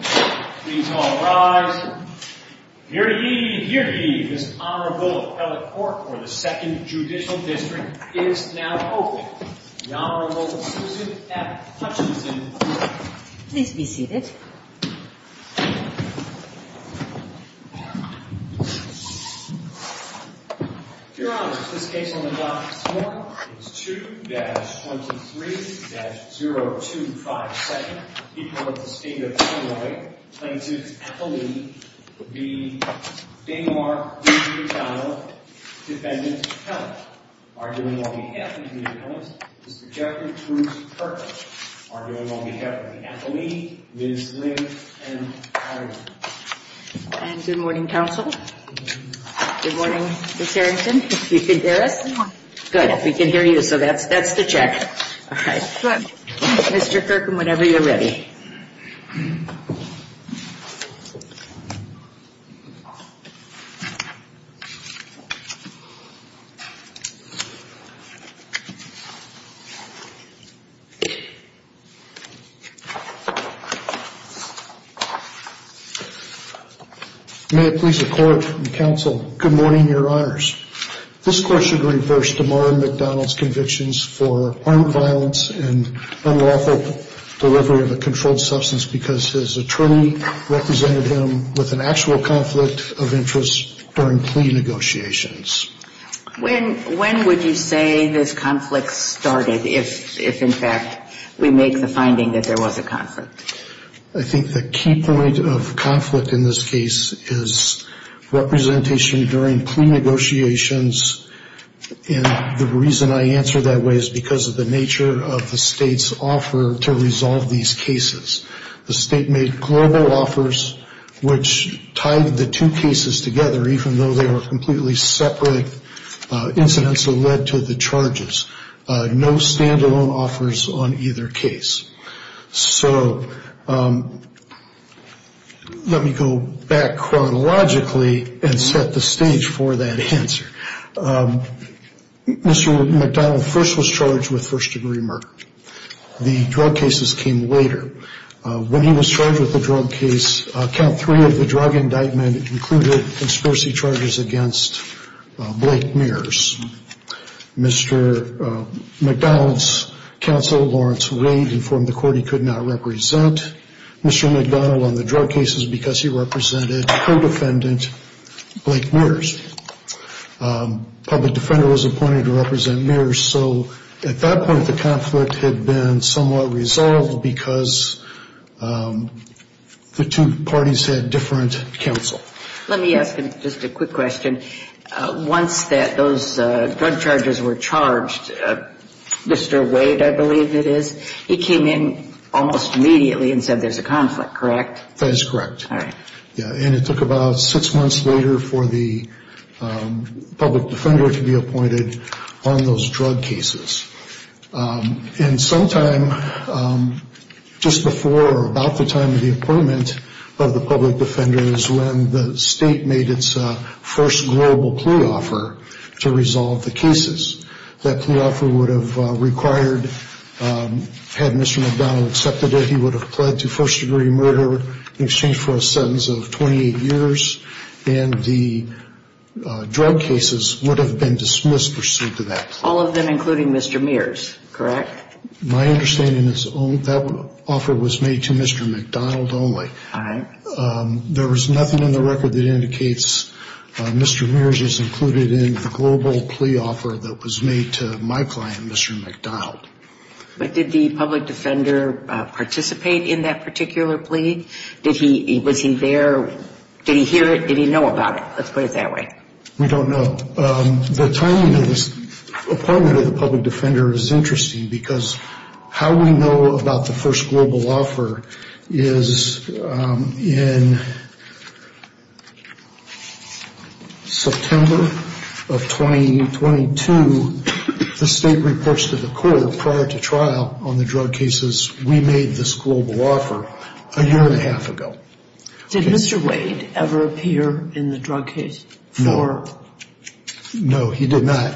Please all rise. Here ye, here ye, this Honorable Appellate Court for the Second Judicial District is now open. The Honorable Susan F. Hutchinson. Please be seated. Your Honor, this case on the docket this morning is 2-23-0257, equal with the state of Illinois. Plaintiff's appellee would be Daniel R. McDowell, defendant's appellant. Arguing on behalf of the defendant's appellant, Mr. Jeffrey Bruce Kirkland. Arguing on behalf of the appellee, Ms. Lynn M. Patterson. And good morning, counsel. Good morning, Ms. Harrington, if you can hear us. Good, we can hear you, so that's the check. Mr. Kirkland, whenever you're ready. May it please the court and counsel, good morning, your honors. This court should reverse DeMora McDowell's convictions for armed violence and unlawful delivery of a controlled substance because his attorney represented him with an actual conflict of interest during plea negotiations. When would you say this conflict started, if in fact we make the finding that there was a conflict? I think the key point of conflict in this case is representation during plea negotiations and the reason I answer that way is because of the nature of the state's offer to resolve these cases. The state made global offers, which tied the two cases together, even though they were completely separate incidents that led to the charges. No stand-alone offers on either case. So let me go back chronologically and set the stage for that answer. Mr. McDowell first was charged with first degree murder. The drug cases came later. When he was charged with the drug case, count three of the drug indictment included conspiracy charges against Blake Mears. Mr. McDowell's counsel, Lawrence Wade, informed the court he could not represent Mr. McDowell on the drug cases because he represented co-defendant Blake Mears. A public defender was appointed to represent Mears, so at that point the conflict had been somewhat resolved because the two parties had different counsel. Let me ask him just a quick question. Once those drug charges were charged, Mr. Wade, I believe it is, he came in almost immediately and said there's a conflict, correct? That is correct. All right. public defender to be appointed on those drug cases. And sometime just before or about the time of the appointment of the public defender is when the state made its first global plea offer to resolve the cases. That plea offer would have required, had Mr. McDowell accepted it, he would have pled to first degree murder in exchange for a sentence of 28 years. And the drug cases would have been dismissed pursuant to that. All of them, including Mr. Mears, correct? My understanding is that offer was made to Mr. McDowell only. All right. There was nothing in the record that indicates Mr. Mears is included in the global plea offer that was made to my client, Mr. McDowell. But did the public defender participate in that particular plea? Was he there? Did he hear it? Did he know about it? Let's put it that way. We don't know. The timing of this appointment of the public defender is interesting because how we know about the first global offer is in September of 2022, the state reports to the court prior to trial on the drug cases we made this global offer a year and a half ago. Did Mr. Wade ever appear in the drug case? No, he did not.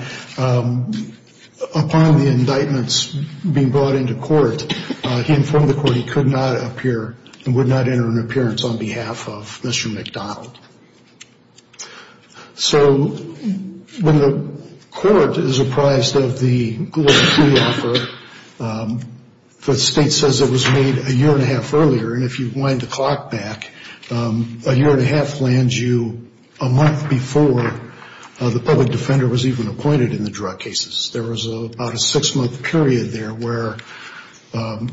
Upon the indictments being brought into court, he informed the court he could not appear and would not enter an appearance on behalf of Mr. McDowell. So when the court is apprised of the global plea offer, the state says it was made a year and a half earlier, and if you wind the clock back, a year and a half lands you a month before the public defender was even appointed in the drug cases. There was about a six-month period there where Mr.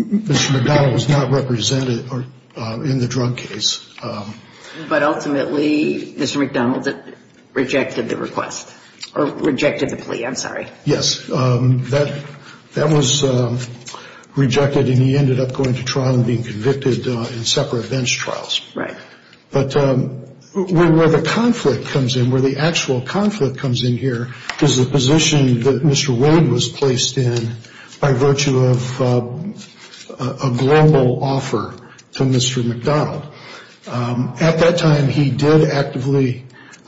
McDowell was not represented in the drug case. But ultimately, Mr. McDowell rejected the request or rejected the plea. I'm sorry. Yes, that was rejected, and he ended up going to trial and being convicted in separate bench trials. Right. But where the conflict comes in, where the actual conflict comes in here, is the position that Mr. Wade was placed in by virtue of a global offer to Mr. McDowell. At that time, he did actively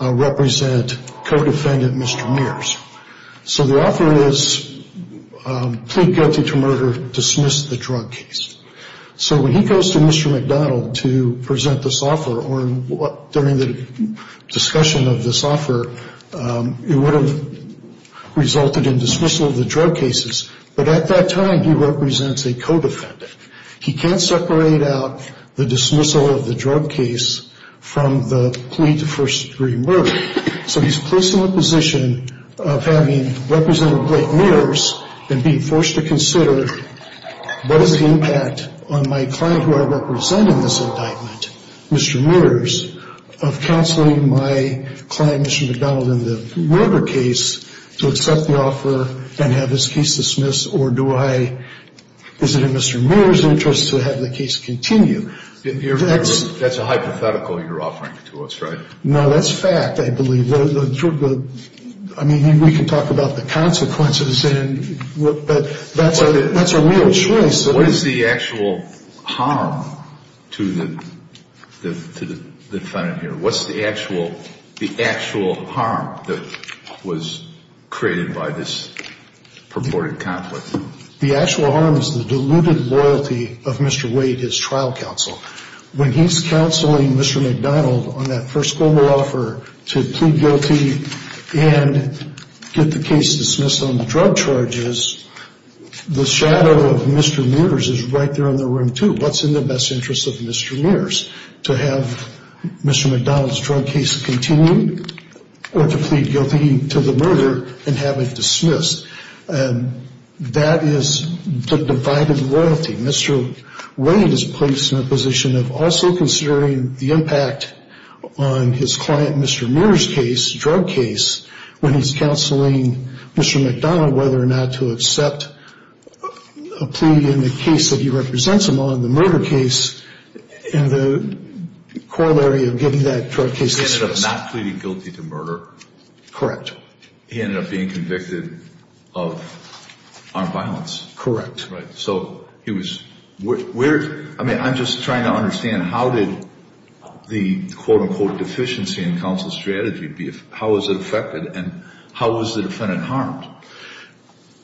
represent co-defendant Mr. Mears. So the offer is plead guilty to murder, dismiss the drug case. So when he goes to Mr. McDowell to present this offer or during the discussion of this offer, it would have resulted in dismissal of the drug cases. But at that time, he represents a co-defendant. He can't separate out the dismissal of the drug case from the plea to first-degree murder. So he's placed in the position of having represented Blake Mears and being forced to consider what is the impact on my client who I represent in this indictment, Mr. Mears, of counseling my client, Mr. McDowell, in the murder case to accept the offer and have his case dismissed, or do I, is it in Mr. Mears' interest to have the case continue? That's a hypothetical you're offering to us, right? No, that's fact, I believe. I mean, we can talk about the consequences, but that's a real choice. What is the actual harm to the defendant here? What's the actual harm that was created by this purported conflict? The actual harm is the diluted loyalty of Mr. Wade, his trial counsel. When he's counseling Mr. McDowell on that first global offer to plead guilty and get the case dismissed on the drug charges, the shadow of Mr. Mears is right there in the room, too. What's in the best interest of Mr. Mears, to have Mr. McDowell's drug case continue or to plead guilty to the murder and have it dismissed? That is the divided loyalty. Mr. Wade is placed in a position of also considering the impact on his client, Mr. Mears' case, drug case, when he's counseling Mr. McDowell whether or not to accept a plea in the case that he represents him on, the murder case, in the corollary of getting that drug case dismissed. He ended up not pleading guilty to murder? Correct. But he ended up being convicted of armed violence? Correct. Right. So he was ‑‑ I mean, I'm just trying to understand how did the, quote, unquote, deficiency in counsel's strategy, how was it affected and how was the defendant harmed?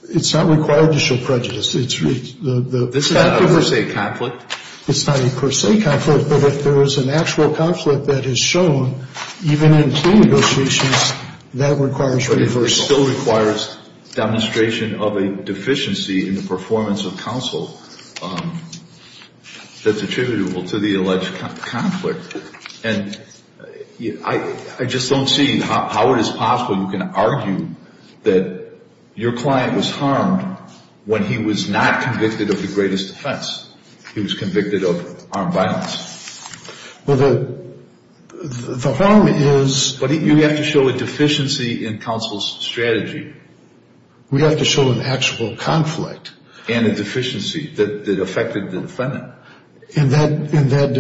It's not required to show prejudice. It's not a per se conflict? It's not a per se conflict, but if there is an actual conflict that is shown, even in plea negotiations, that requires reversal. But it still requires demonstration of a deficiency in the performance of counsel that's attributable to the alleged conflict. And I just don't see how it is possible you can argue that your client was harmed when he was not convicted of the greatest offense. He was convicted of armed violence. Well, the harm is ‑‑ But you have to show a deficiency in counsel's strategy. We have to show an actual conflict. And a deficiency that affected the defendant. And that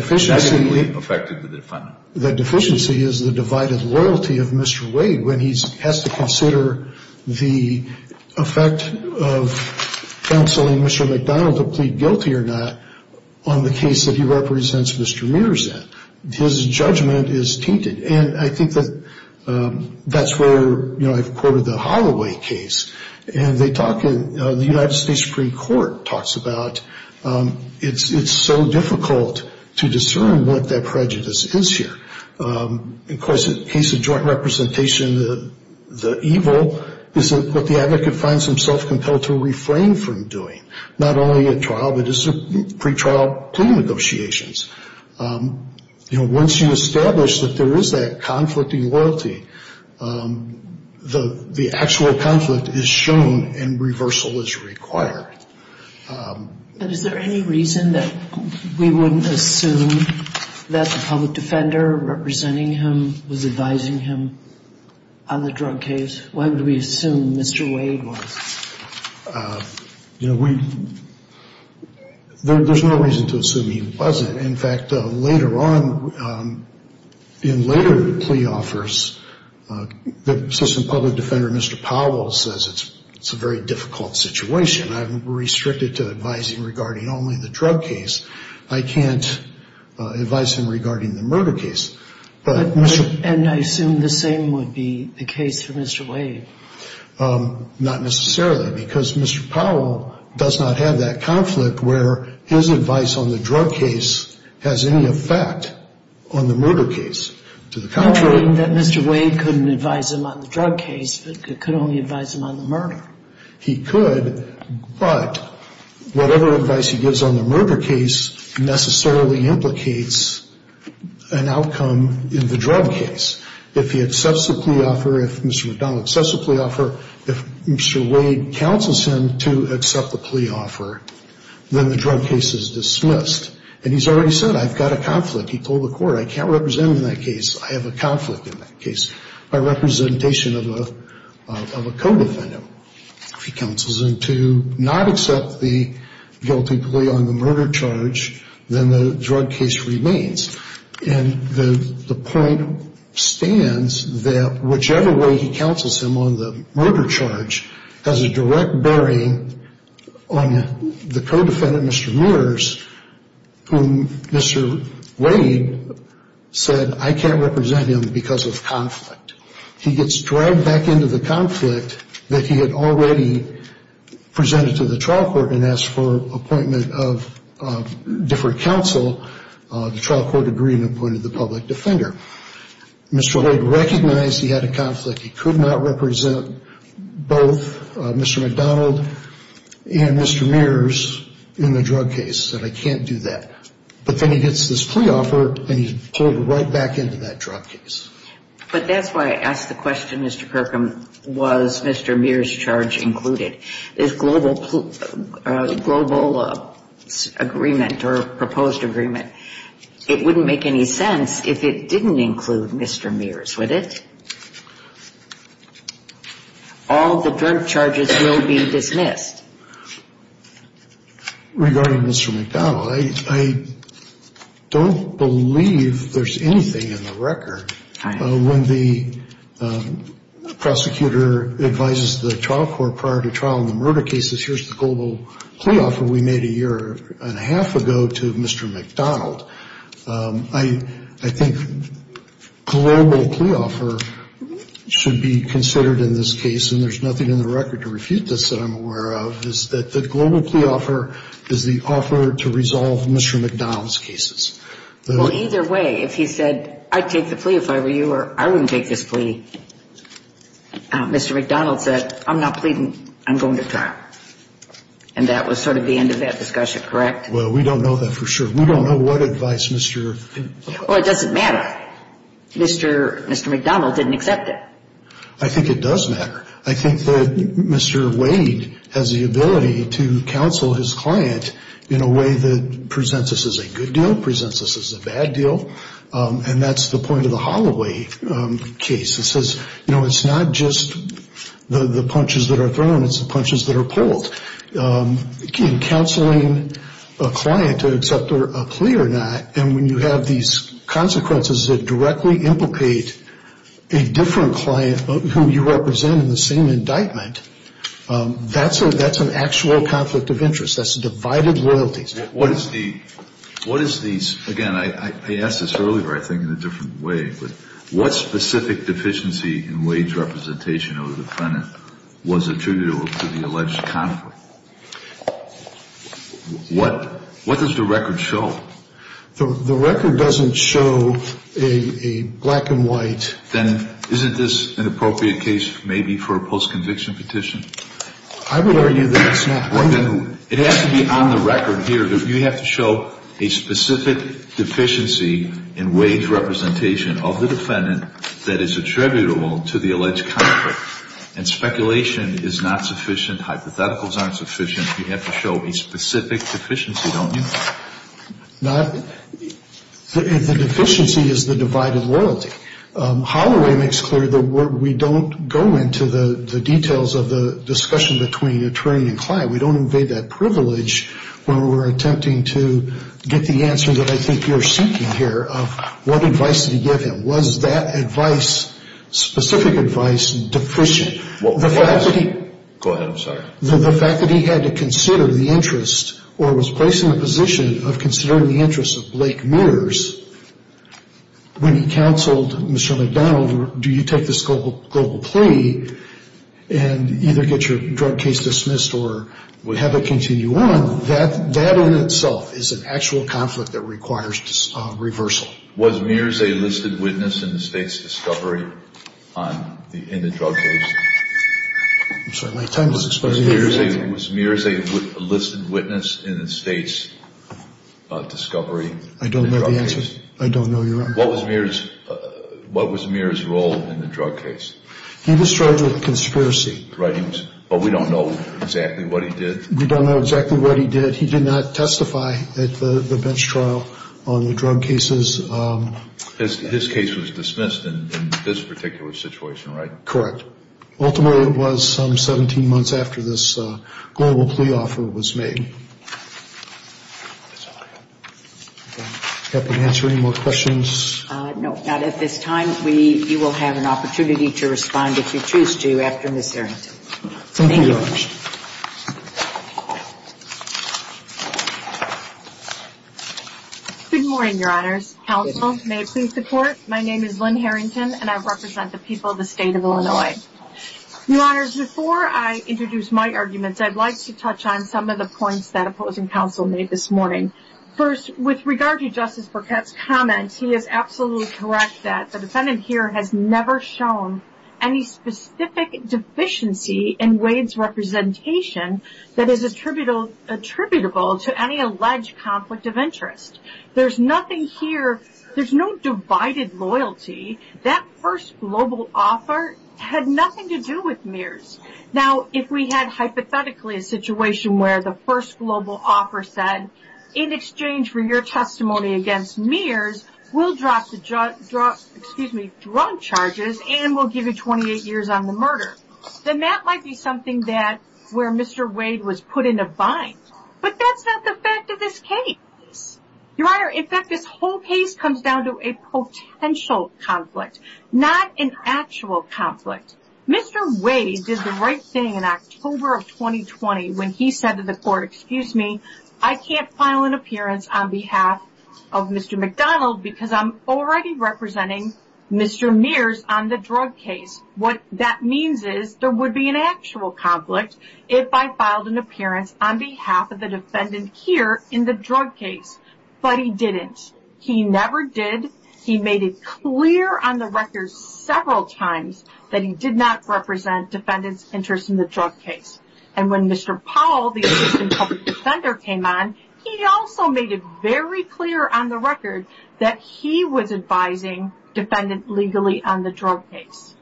deficiency is the divided loyalty of Mr. Wade when he has to consider the effect of counseling Mr. McDonald to plead guilty or not on the case that he represents Mr. Mears in. His judgment is tainted. And I think that that's where, you know, I've quoted the Holloway case. And they talk in the United States Supreme Court talks about it's so difficult to discern what that prejudice is here. Of course, in the case of joint representation, the evil is what the advocate finds himself compelled to refrain from doing. Not only at trial, but at pretrial plea negotiations. You know, once you establish that there is that conflict in loyalty, the actual conflict is shown and reversal is required. But is there any reason that we wouldn't assume that the public defender representing him was advising him on the drug case? Why would we assume Mr. Wade was? You know, there's no reason to assume he wasn't. In fact, later on, in later plea offers, the assistant public defender, Mr. Powell, says it's a very difficult situation. I'm restricted to advising regarding only the drug case. I can't advise him regarding the murder case. And I assume the same would be the case for Mr. Wade. Not necessarily, because Mr. Powell does not have that conflict where his advice on the drug case has any effect on the murder case. You're trying to say that Mr. Wade couldn't advise him on the drug case, but could only advise him on the murder. He could, but whatever advice he gives on the murder case necessarily implicates an outcome in the drug case. If he accepts the plea offer, if Mr. McDonald accepts the plea offer, if Mr. Wade counsels him to accept the plea offer, then the drug case is dismissed. And he's already said, I've got a conflict. He told the court, I can't represent him in that case. I have a conflict in that case by representation of a co-defendant. If he counsels him to not accept the guilty plea on the murder charge, then the drug case remains. And the point stands that whichever way he counsels him on the murder charge has a direct bearing on the co-defendant, Mr. Mears, whom Mr. Wade said, I can't represent him because of conflict. He gets dragged back into the conflict that he had already presented to the trial court and asked for appointment of different counsel. The trial court agreed and appointed the public defender. Mr. Wade recognized he had a conflict. He could not represent both Mr. McDonald and Mr. Mears in the drug case and said, I can't do that. But then he gets this plea offer and he's pulled right back into that drug case. But that's why I asked the question, Mr. Kirkham, was Mr. Mears' charge included? This global agreement or proposed agreement, it wouldn't make any sense if it didn't include Mr. Mears, would it? All the drug charges will be dismissed. Regarding Mr. McDonald, I don't believe there's anything in the record. When the prosecutor advises the trial court prior to trial on the murder cases, here's the global plea offer we made a year and a half ago to Mr. McDonald. I think global plea offer should be considered in this case, and there's nothing in the record to refute this that I'm aware of, is that the global plea offer is the offer to resolve Mr. McDonald's cases. Well, either way, if he said, I'd take the plea if I were you or I wouldn't take this plea, Mr. McDonald said, I'm not pleading. I'm going to trial. And that was sort of the end of that discussion, correct? Well, we don't know that for sure. We don't know what advice Mr. Well, it doesn't matter. Mr. McDonald didn't accept it. I think it does matter. I think that Mr. Wade has the ability to counsel his client in a way that presents us as a good deal, presents us as a bad deal, and that's the point of the Holloway case. It says, you know, it's not just the punches that are thrown, it's the punches that are pulled. Counseling a client to accept a plea or not, and when you have these consequences that directly implicate a different client who you represent in the same indictment, that's an actual conflict of interest. That's divided royalties. What is the, again, I asked this earlier, I think, in a different way, but what specific deficiency in wage representation of the defendant was attributable to the alleged conflict? What does the record show? The record doesn't show a black and white. Then isn't this an appropriate case maybe for a post-conviction petition? I would argue that it's not. It has to be on the record here. You have to show a specific deficiency in wage representation of the defendant that is attributable to the alleged conflict, and speculation is not sufficient. Hypotheticals aren't sufficient. You have to show a specific deficiency, don't you? The deficiency is the divided loyalty. Holloway makes clear that we don't go into the details of the discussion between attorney and client. We don't invade that privilege when we're attempting to get the answer that I think you're seeking here of what advice did he give him. Was that advice, specific advice, deficient? Go ahead, I'm sorry. The fact that he had to consider the interest or was placed in the position of considering the interest of Blake Mears when he counseled Michelle McDonald, do you take this global plea and either get your drug case dismissed or have it continue on, that in itself is an actual conflict that requires reversal. Was Mears a listed witness in the State's discovery in the drug case? I'm sorry, my time is expiring. Was Mears a listed witness in the State's discovery in the drug case? I don't know the answer. I don't know your answer. What was Mears' role in the drug case? He was charged with conspiracy. Right, but we don't know exactly what he did. We don't know exactly what he did. But he did not testify at the bench trial on the drug cases. His case was dismissed in this particular situation, right? Correct. Ultimately it was some 17 months after this global plea offer was made. Does that answer any more questions? No, not at this time. You will have an opportunity to respond if you choose to after Ms. Arrington. Thank you. Good morning, Your Honors. Counsel, may I please report? My name is Lynn Harrington, and I represent the people of the State of Illinois. Your Honors, before I introduce my arguments, I'd like to touch on some of the points that opposing counsel made this morning. First, with regard to Justice Burkett's comment, he is absolutely correct that the defendant here has never shown any specific deficiency in Wade's representation that is attributable to any alleged conflict of interest. There's nothing here, there's no divided loyalty. That first global offer had nothing to do with Mears. Now, if we had hypothetically a situation where the first global offer said, in exchange for your testimony against Mears, we'll drop the drug charges and we'll give you 28 years on the murder, then that might be something where Mr. Wade was put in a bind. But that's not the fact of this case. Your Honor, in fact, this whole case comes down to a potential conflict, not an actual conflict. Mr. Wade did the right thing in October of 2020 when he said to the court, Your Honor, excuse me, I can't file an appearance on behalf of Mr. McDonald because I'm already representing Mr. Mears on the drug case. What that means is there would be an actual conflict if I filed an appearance on behalf of the defendant here in the drug case. But he didn't. He never did. He made it clear on the record several times that he did not represent defendants' interest in the drug case. And when Mr. Powell, the assistant public defender, came on, he also made it very clear on the record that he was advising defendants legally on the drug case.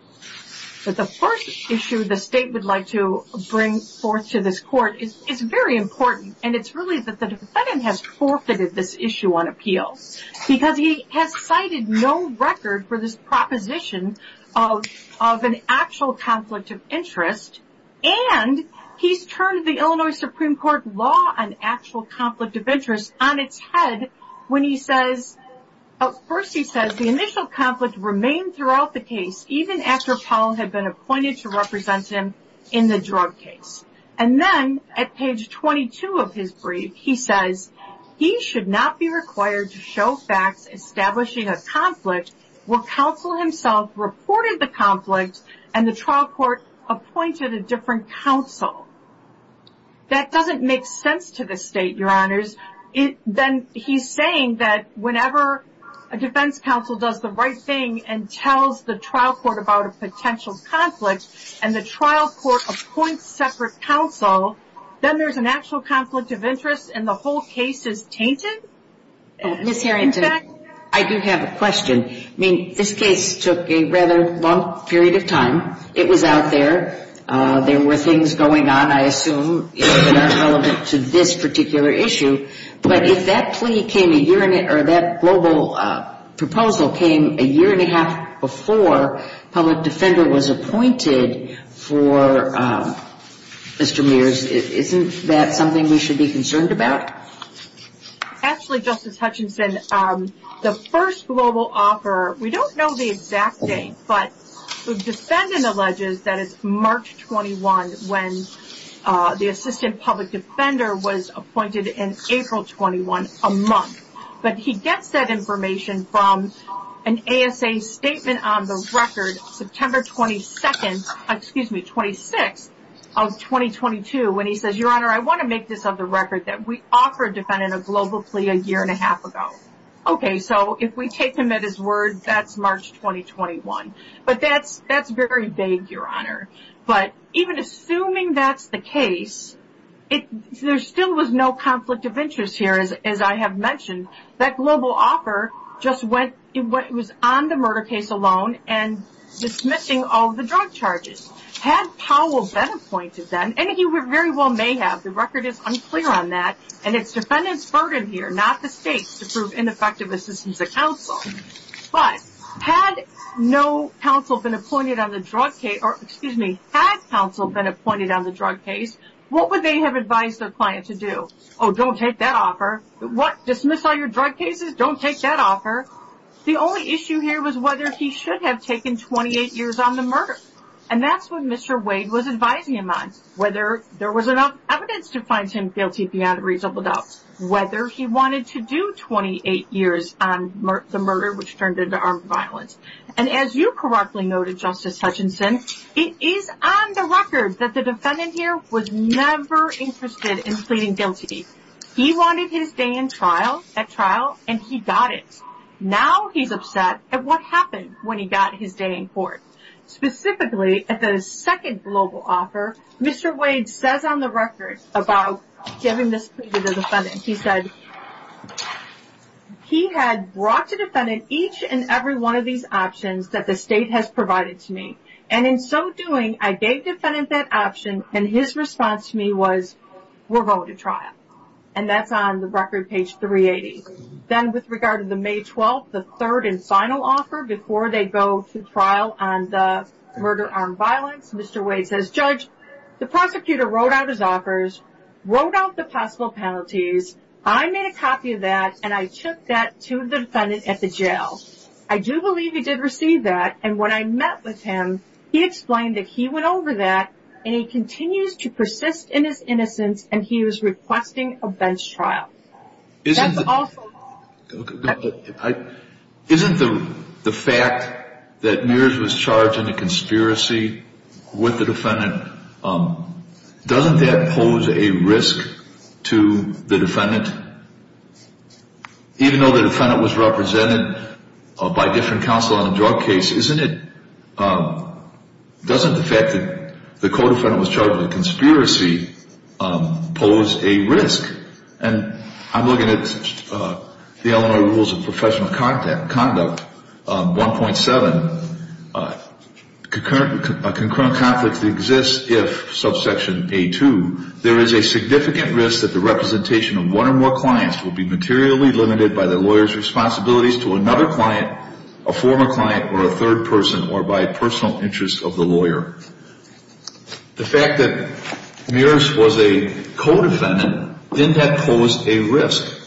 But the first issue the state would like to bring forth to this court is very important, and it's really that the defendant has forfeited this issue on appeal because he has cited no record for this proposition of an actual conflict of interest and he's turned the Illinois Supreme Court law on actual conflict of interest on its head when he says, first he says the initial conflict remained throughout the case even after Powell had been appointed to represent him in the drug case. And then at page 22 of his brief, he says, He should not be required to show facts establishing a conflict where counsel himself reported the conflict and the trial court appointed a different counsel. That doesn't make sense to the state, Your Honors. Then he's saying that whenever a defense counsel does the right thing and tells the trial court about a potential conflict and the trial court appoints separate counsel, then there's an actual conflict of interest and the whole case is tainted? Ms. Harrington, I do have a question. I mean, this case took a rather long period of time. It was out there. There were things going on, I assume, that aren't relevant to this particular issue. But if that plea came a year or that global proposal came a year and a half before public defender was appointed for Mr. Mears, isn't that something we should be concerned about? Actually, Justice Hutchinson, the first global offer, we don't know the exact date, but the defendant alleges that it's March 21 when the assistant public defender was appointed in April 21, a month. But he gets that information from an ASA statement on the record, September 22, excuse me, 26 of 2022, when he says, Your Honor, I want to make this of the record that we offered a defendant a global plea a year and a half ago. Okay, so if we take him at his word, that's March 2021. But that's very vague, Your Honor. But even assuming that's the case, there still was no conflict of interest here, as I have mentioned. That global offer just went – it was on the murder case alone and dismissing all the drug charges. Had Powell been appointed then, and he very well may have, the record is unclear on that, and it's defendant's burden here, not the state's, to prove ineffective assistance to counsel. But had no counsel been appointed on the drug case – or excuse me, had counsel been appointed on the drug case, what would they have advised their client to do? Oh, don't take that offer. What, dismiss all your drug cases? Don't take that offer. The only issue here was whether he should have taken 28 years on the murder. And that's what Mr. Wade was advising him on. Whether there was enough evidence to find him guilty beyond a reasonable doubt. Whether he wanted to do 28 years on the murder, which turned into armed violence. And as you correctly noted, Justice Hutchinson, it is on the record that the defendant here was never interested in pleading guilty. He wanted his day in trial, at trial, and he got it. Now he's upset at what happened when he got his day in court. Specifically, at the second global offer, Mr. Wade says on the record about giving this plea to the defendant. He said, he had brought to defendant each and every one of these options that the state has provided to me. And in so doing, I gave defendant that option, and his response to me was, we're going to trial. And that's on the record, page 380. Then with regard to the May 12th, the third and final offer, before they go to trial on the murder armed violence, Mr. Wade says, Judge, the prosecutor wrote out his offers, wrote out the possible penalties. I made a copy of that, and I took that to the defendant at the jail. I do believe he did receive that, and when I met with him, he explained that he went over that, and he continues to persist in his innocence, and he was requesting a bench trial. Isn't the fact that Mears was charged in a conspiracy with the defendant, doesn't that pose a risk to the defendant? Even though the defendant was represented by different counsel on a drug case, doesn't the fact that the co-defendant was charged with a conspiracy pose a risk? And I'm looking at the Illinois Rules of Professional Conduct, 1.7. A concurrent conflict exists if, subsection A2, there is a significant risk that the representation of one or more clients will be materially limited by the lawyer's responsibilities to another client, a former client, or a third person, or by personal interest of the lawyer. The fact that Mears was a co-defendant, didn't that pose a risk?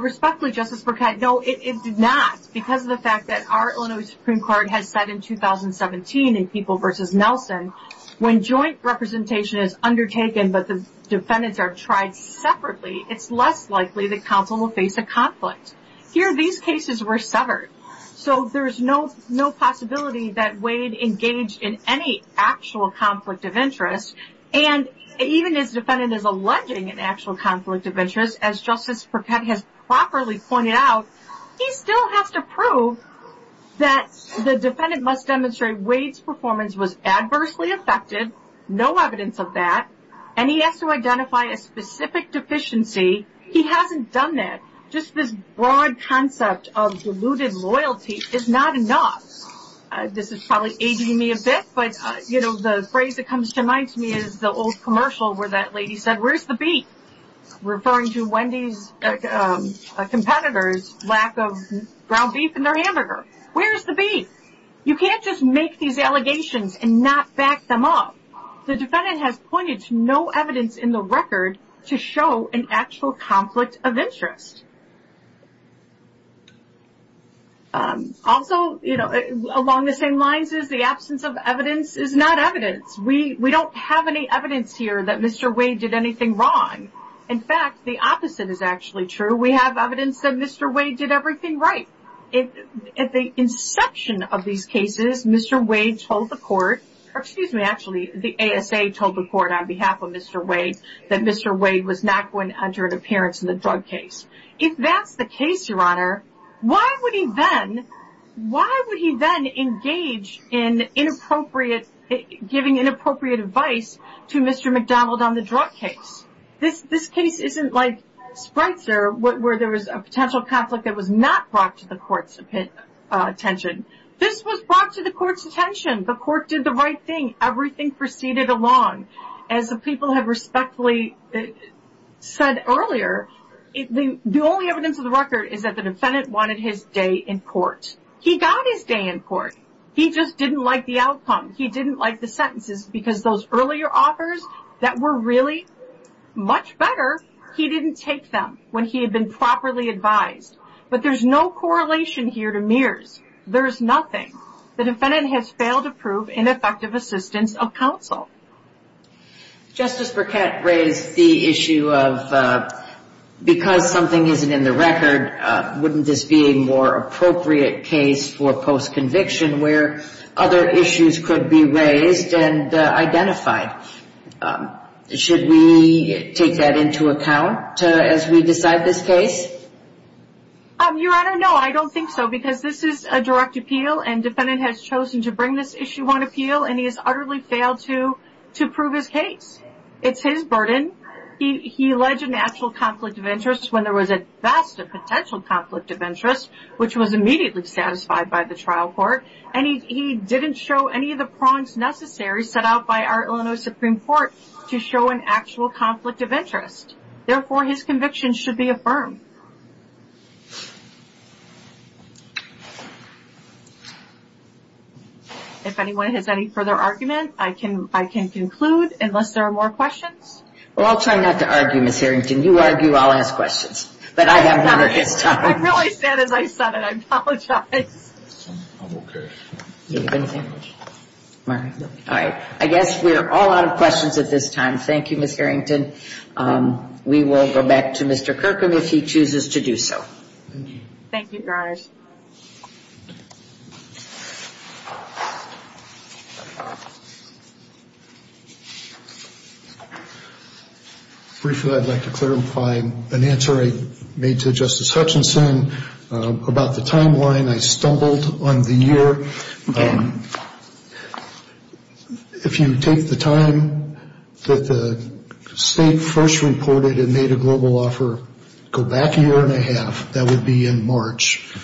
Respectfully, Justice Burkett, no, it did not. Because of the fact that our Illinois Supreme Court has said in 2017 in People v. Nelson, when joint representation is undertaken, but the defendants are tried separately, it's less likely that counsel will face a conflict. Here, these cases were severed. So there's no possibility that Wade engaged in any actual conflict of interest. And even if the defendant is alleging an actual conflict of interest, as Justice Burkett has properly pointed out, he still has to prove that the defendant must demonstrate Wade's performance was adversely affected, no evidence of that, and he has to identify a specific deficiency. He hasn't done that. Just this broad concept of deluded loyalty is not enough. This is probably aging me a bit, but, you know, the phrase that comes to mind to me is the old commercial where that lady said, where's the beef? Referring to Wendy's competitor's lack of ground beef in their hamburger. Where's the beef? You can't just make these allegations and not back them up. The defendant has pointed to no evidence in the record to show an actual conflict of interest. Also, you know, along the same lines is the absence of evidence is not evidence. We don't have any evidence here that Mr. Wade did anything wrong. In fact, the opposite is actually true. We have evidence that Mr. Wade did everything right. At the inception of these cases, Mr. Wade told the court, or excuse me, actually, the ASA told the court on behalf of Mr. Wade that Mr. Wade was not going to enter an appearance in the drug case. If that's the case, Your Honor, why would he then engage in inappropriate, giving inappropriate advice to Mr. McDonald on the drug case? This case isn't like Spreitzer where there was a potential conflict that was not brought to the court's attention. This was brought to the court's attention. The court did the right thing. Everything proceeded along. As the people have respectfully said earlier, the only evidence of the record is that the defendant wanted his day in court. He got his day in court. He just didn't like the outcome. He didn't like the sentences because those earlier offers that were really much better, he didn't take them when he had been properly advised. But there's no correlation here to Mears. There's nothing. The defendant has failed to prove ineffective assistance of counsel. Justice Burkett raised the issue of because something isn't in the record, wouldn't this be a more appropriate case for post-conviction where other issues could be raised and identified? Should we take that into account as we decide this case? Your Honor, no, I don't think so because this is a direct appeal and defendant has chosen to bring this issue on appeal and he has utterly failed to prove his case. It's his burden. He alleged an actual conflict of interest when there was a vast potential conflict of interest, which was immediately satisfied by the trial court, and he didn't show any of the prongs necessary set out by our Illinois Supreme Court to show an actual conflict of interest. Therefore, his conviction should be affirmed. If anyone has any further argument, I can conclude unless there are more questions. Well, I'll try not to argue, Ms. Harrington. You argue, I'll ask questions. But I have none at this time. I'm really sad as I said it. I apologize. I'm okay. All right. I guess we're all out of questions at this time. Thank you, Ms. Harrington. We will go back to Mr. Kirkham if he chooses to do so. Thank you, guys. Briefly, I'd like to clarify an answer I made to Justice Hutchinson about the timeline. I stumbled on the year. If you take the time that the state first reported and made a global offer, go back a year and a half. That would be in March.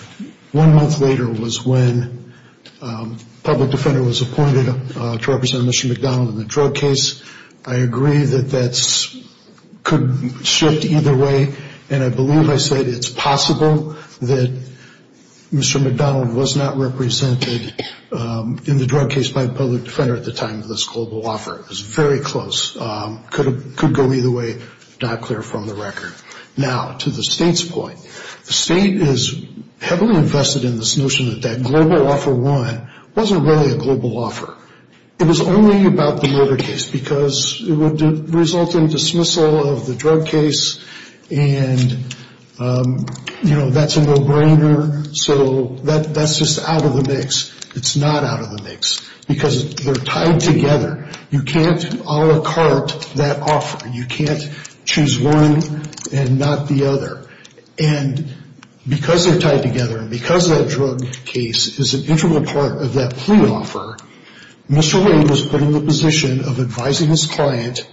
One month later was when a public defender was appointed to represent Mr. McDonald in the drug case. I agree that that could shift either way, and I believe I said it's possible that Mr. McDonald was not represented in the drug case by a public defender at the time of this global offer. It was very close. Could go either way. Not clear from the record. Now, to the state's point, the state is heavily invested in this notion that that global offer won wasn't really a global offer. It was only about the murder case because it would result in dismissal of the drug case, and, you know, that's a no-brainer. So that's just out of the mix. It's not out of the mix because they're tied together. You can't a la carte that offer. You can't choose one and not the other. And because they're tied together and because that drug case is an integral part of that plea offer, Mr. Wade was put in the position of advising his client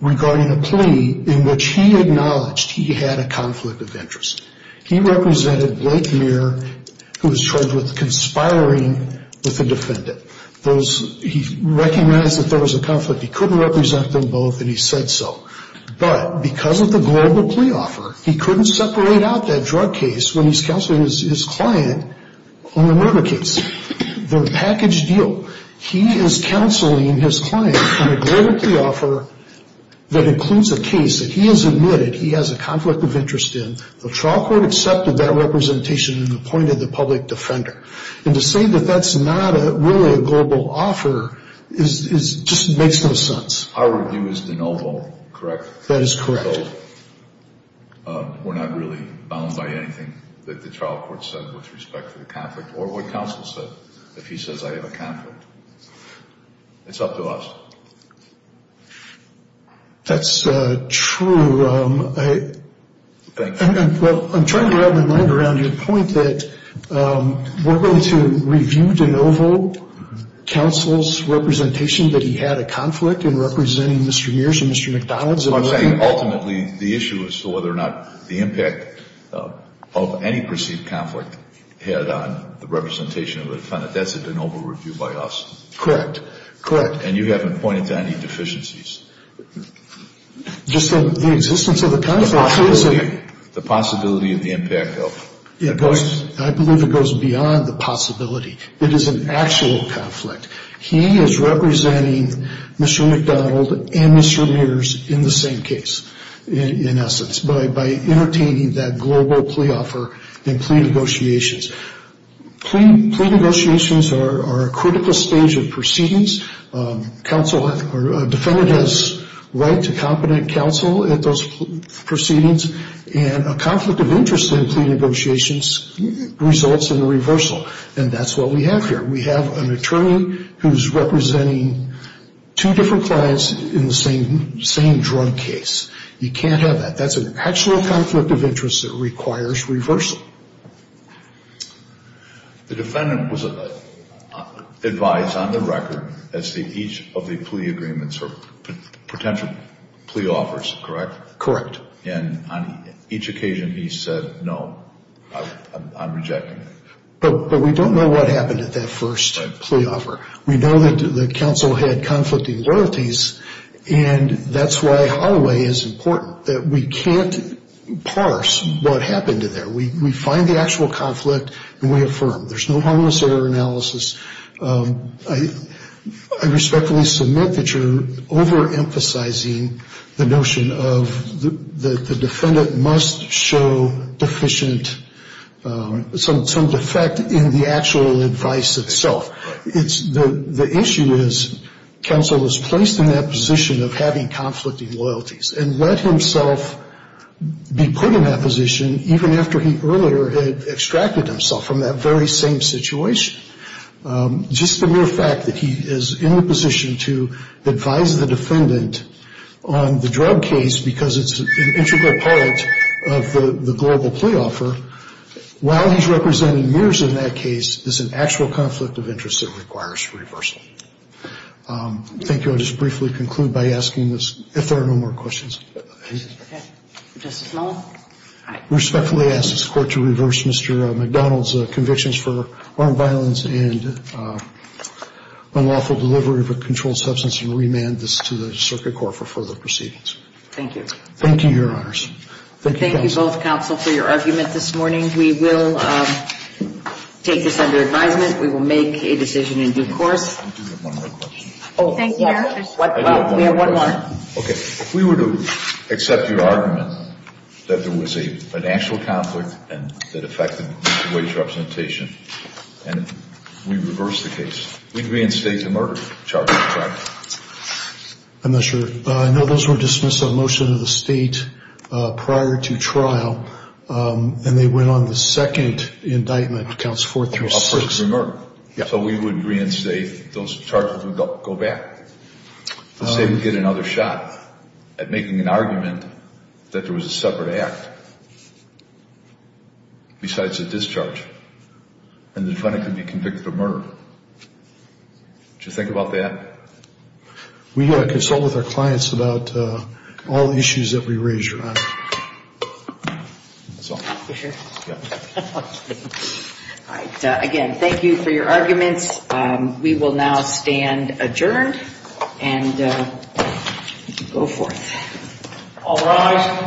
regarding a plea in which he acknowledged he had a conflict of interest. He represented Blake Muir, who was charged with conspiring with the defendant. He recognized that there was a conflict. He couldn't represent them both, and he said so. But because of the global plea offer, he couldn't separate out that drug case when he's counseling his client on the murder case. They're a packaged deal. He is counseling his client on a global plea offer that includes a case that he has admitted he has a conflict of interest in. The trial court accepted that representation and appointed the public defender. And to say that that's not really a global offer just makes no sense. Our review is de novo, correct? That is correct. So we're not really bound by anything that the trial court said with respect to the conflict or what counsel said if he says I have a conflict. It's up to us. That's true. Well, I'm trying to wrap my mind around your point that we're going to review de novo counsel's representation that he had a conflict in representing Mr. Mears and Mr. McDonald's. I'm saying ultimately the issue is whether or not the impact of any perceived conflict had on the representation of the defendant. That's a de novo review by us. Correct. Correct. And you haven't pointed to any deficiencies. Just in the existence of the conflict. The possibility of the impact of. I believe it goes beyond the possibility. It is an actual conflict. He is representing Mr. McDonald and Mr. Mears in the same case, in essence, by entertaining that global plea offer in plea negotiations. Plea negotiations are a critical stage of proceedings. Defendant has right to competent counsel at those proceedings, and a conflict of interest in plea negotiations results in a reversal. And that's what we have here. We have an attorney who's representing two different clients in the same drug case. You can't have that. That's an actual conflict of interest that requires reversal. The defendant was advised on the record as to each of the plea agreements or potential plea offers, correct? Correct. And on each occasion he said, no, I'm rejecting it. But we don't know what happened at that first plea offer. We know that the counsel had conflicting loyalties, and that's why Holloway is important, that we can't parse what happened there. We find the actual conflict and we affirm. There's no harmless error analysis. I respectfully submit that you're overemphasizing the notion of the defendant must show deficient, some defect in the actual advice itself. The issue is counsel was placed in that position of having conflicting loyalties and let himself be put in that position even after he earlier had extracted himself from that very same situation. Just the mere fact that he is in the position to advise the defendant on the drug case because it's an integral part of the global plea offer, while he's representing mirrors in that case, is an actual conflict of interest that requires reversal. Thank you. I'll just briefly conclude by asking this, if there are no more questions. Okay. Justice Long? I respectfully ask this Court to reverse Mr. McDonald's convictions for armed violence and unlawful delivery of a controlled substance and remand this to the circuit court for further proceedings. Thank you. Thank you, Your Honors. Thank you, counsel. Thank you both, counsel, for your argument this morning. We will take this under advisement. We will make a decision in due course. Thank you. We have one more question. Thank you, Your Honor. We have one more question. Okay. If we were to accept your argument that there was an actual conflict and that affected mutual age representation and we reversed the case, we'd reinstate the murder charge, correct? I'm not sure. No, those were dismissed on a motion of the State prior to trial, and they went on the second indictment, counts four through six. So we would reinstate those charges and go back. Let's say we get another shot at making an argument that there was a separate act besides the discharge and the defendant could be convicted of murder. Would you think about that? We consult with our clients about all the issues that we raise, Your Honor. That's all. You're sure? Yeah. Okay. All right. Again, thank you for your arguments. We will now stand adjourned, and you can go forth. All rise.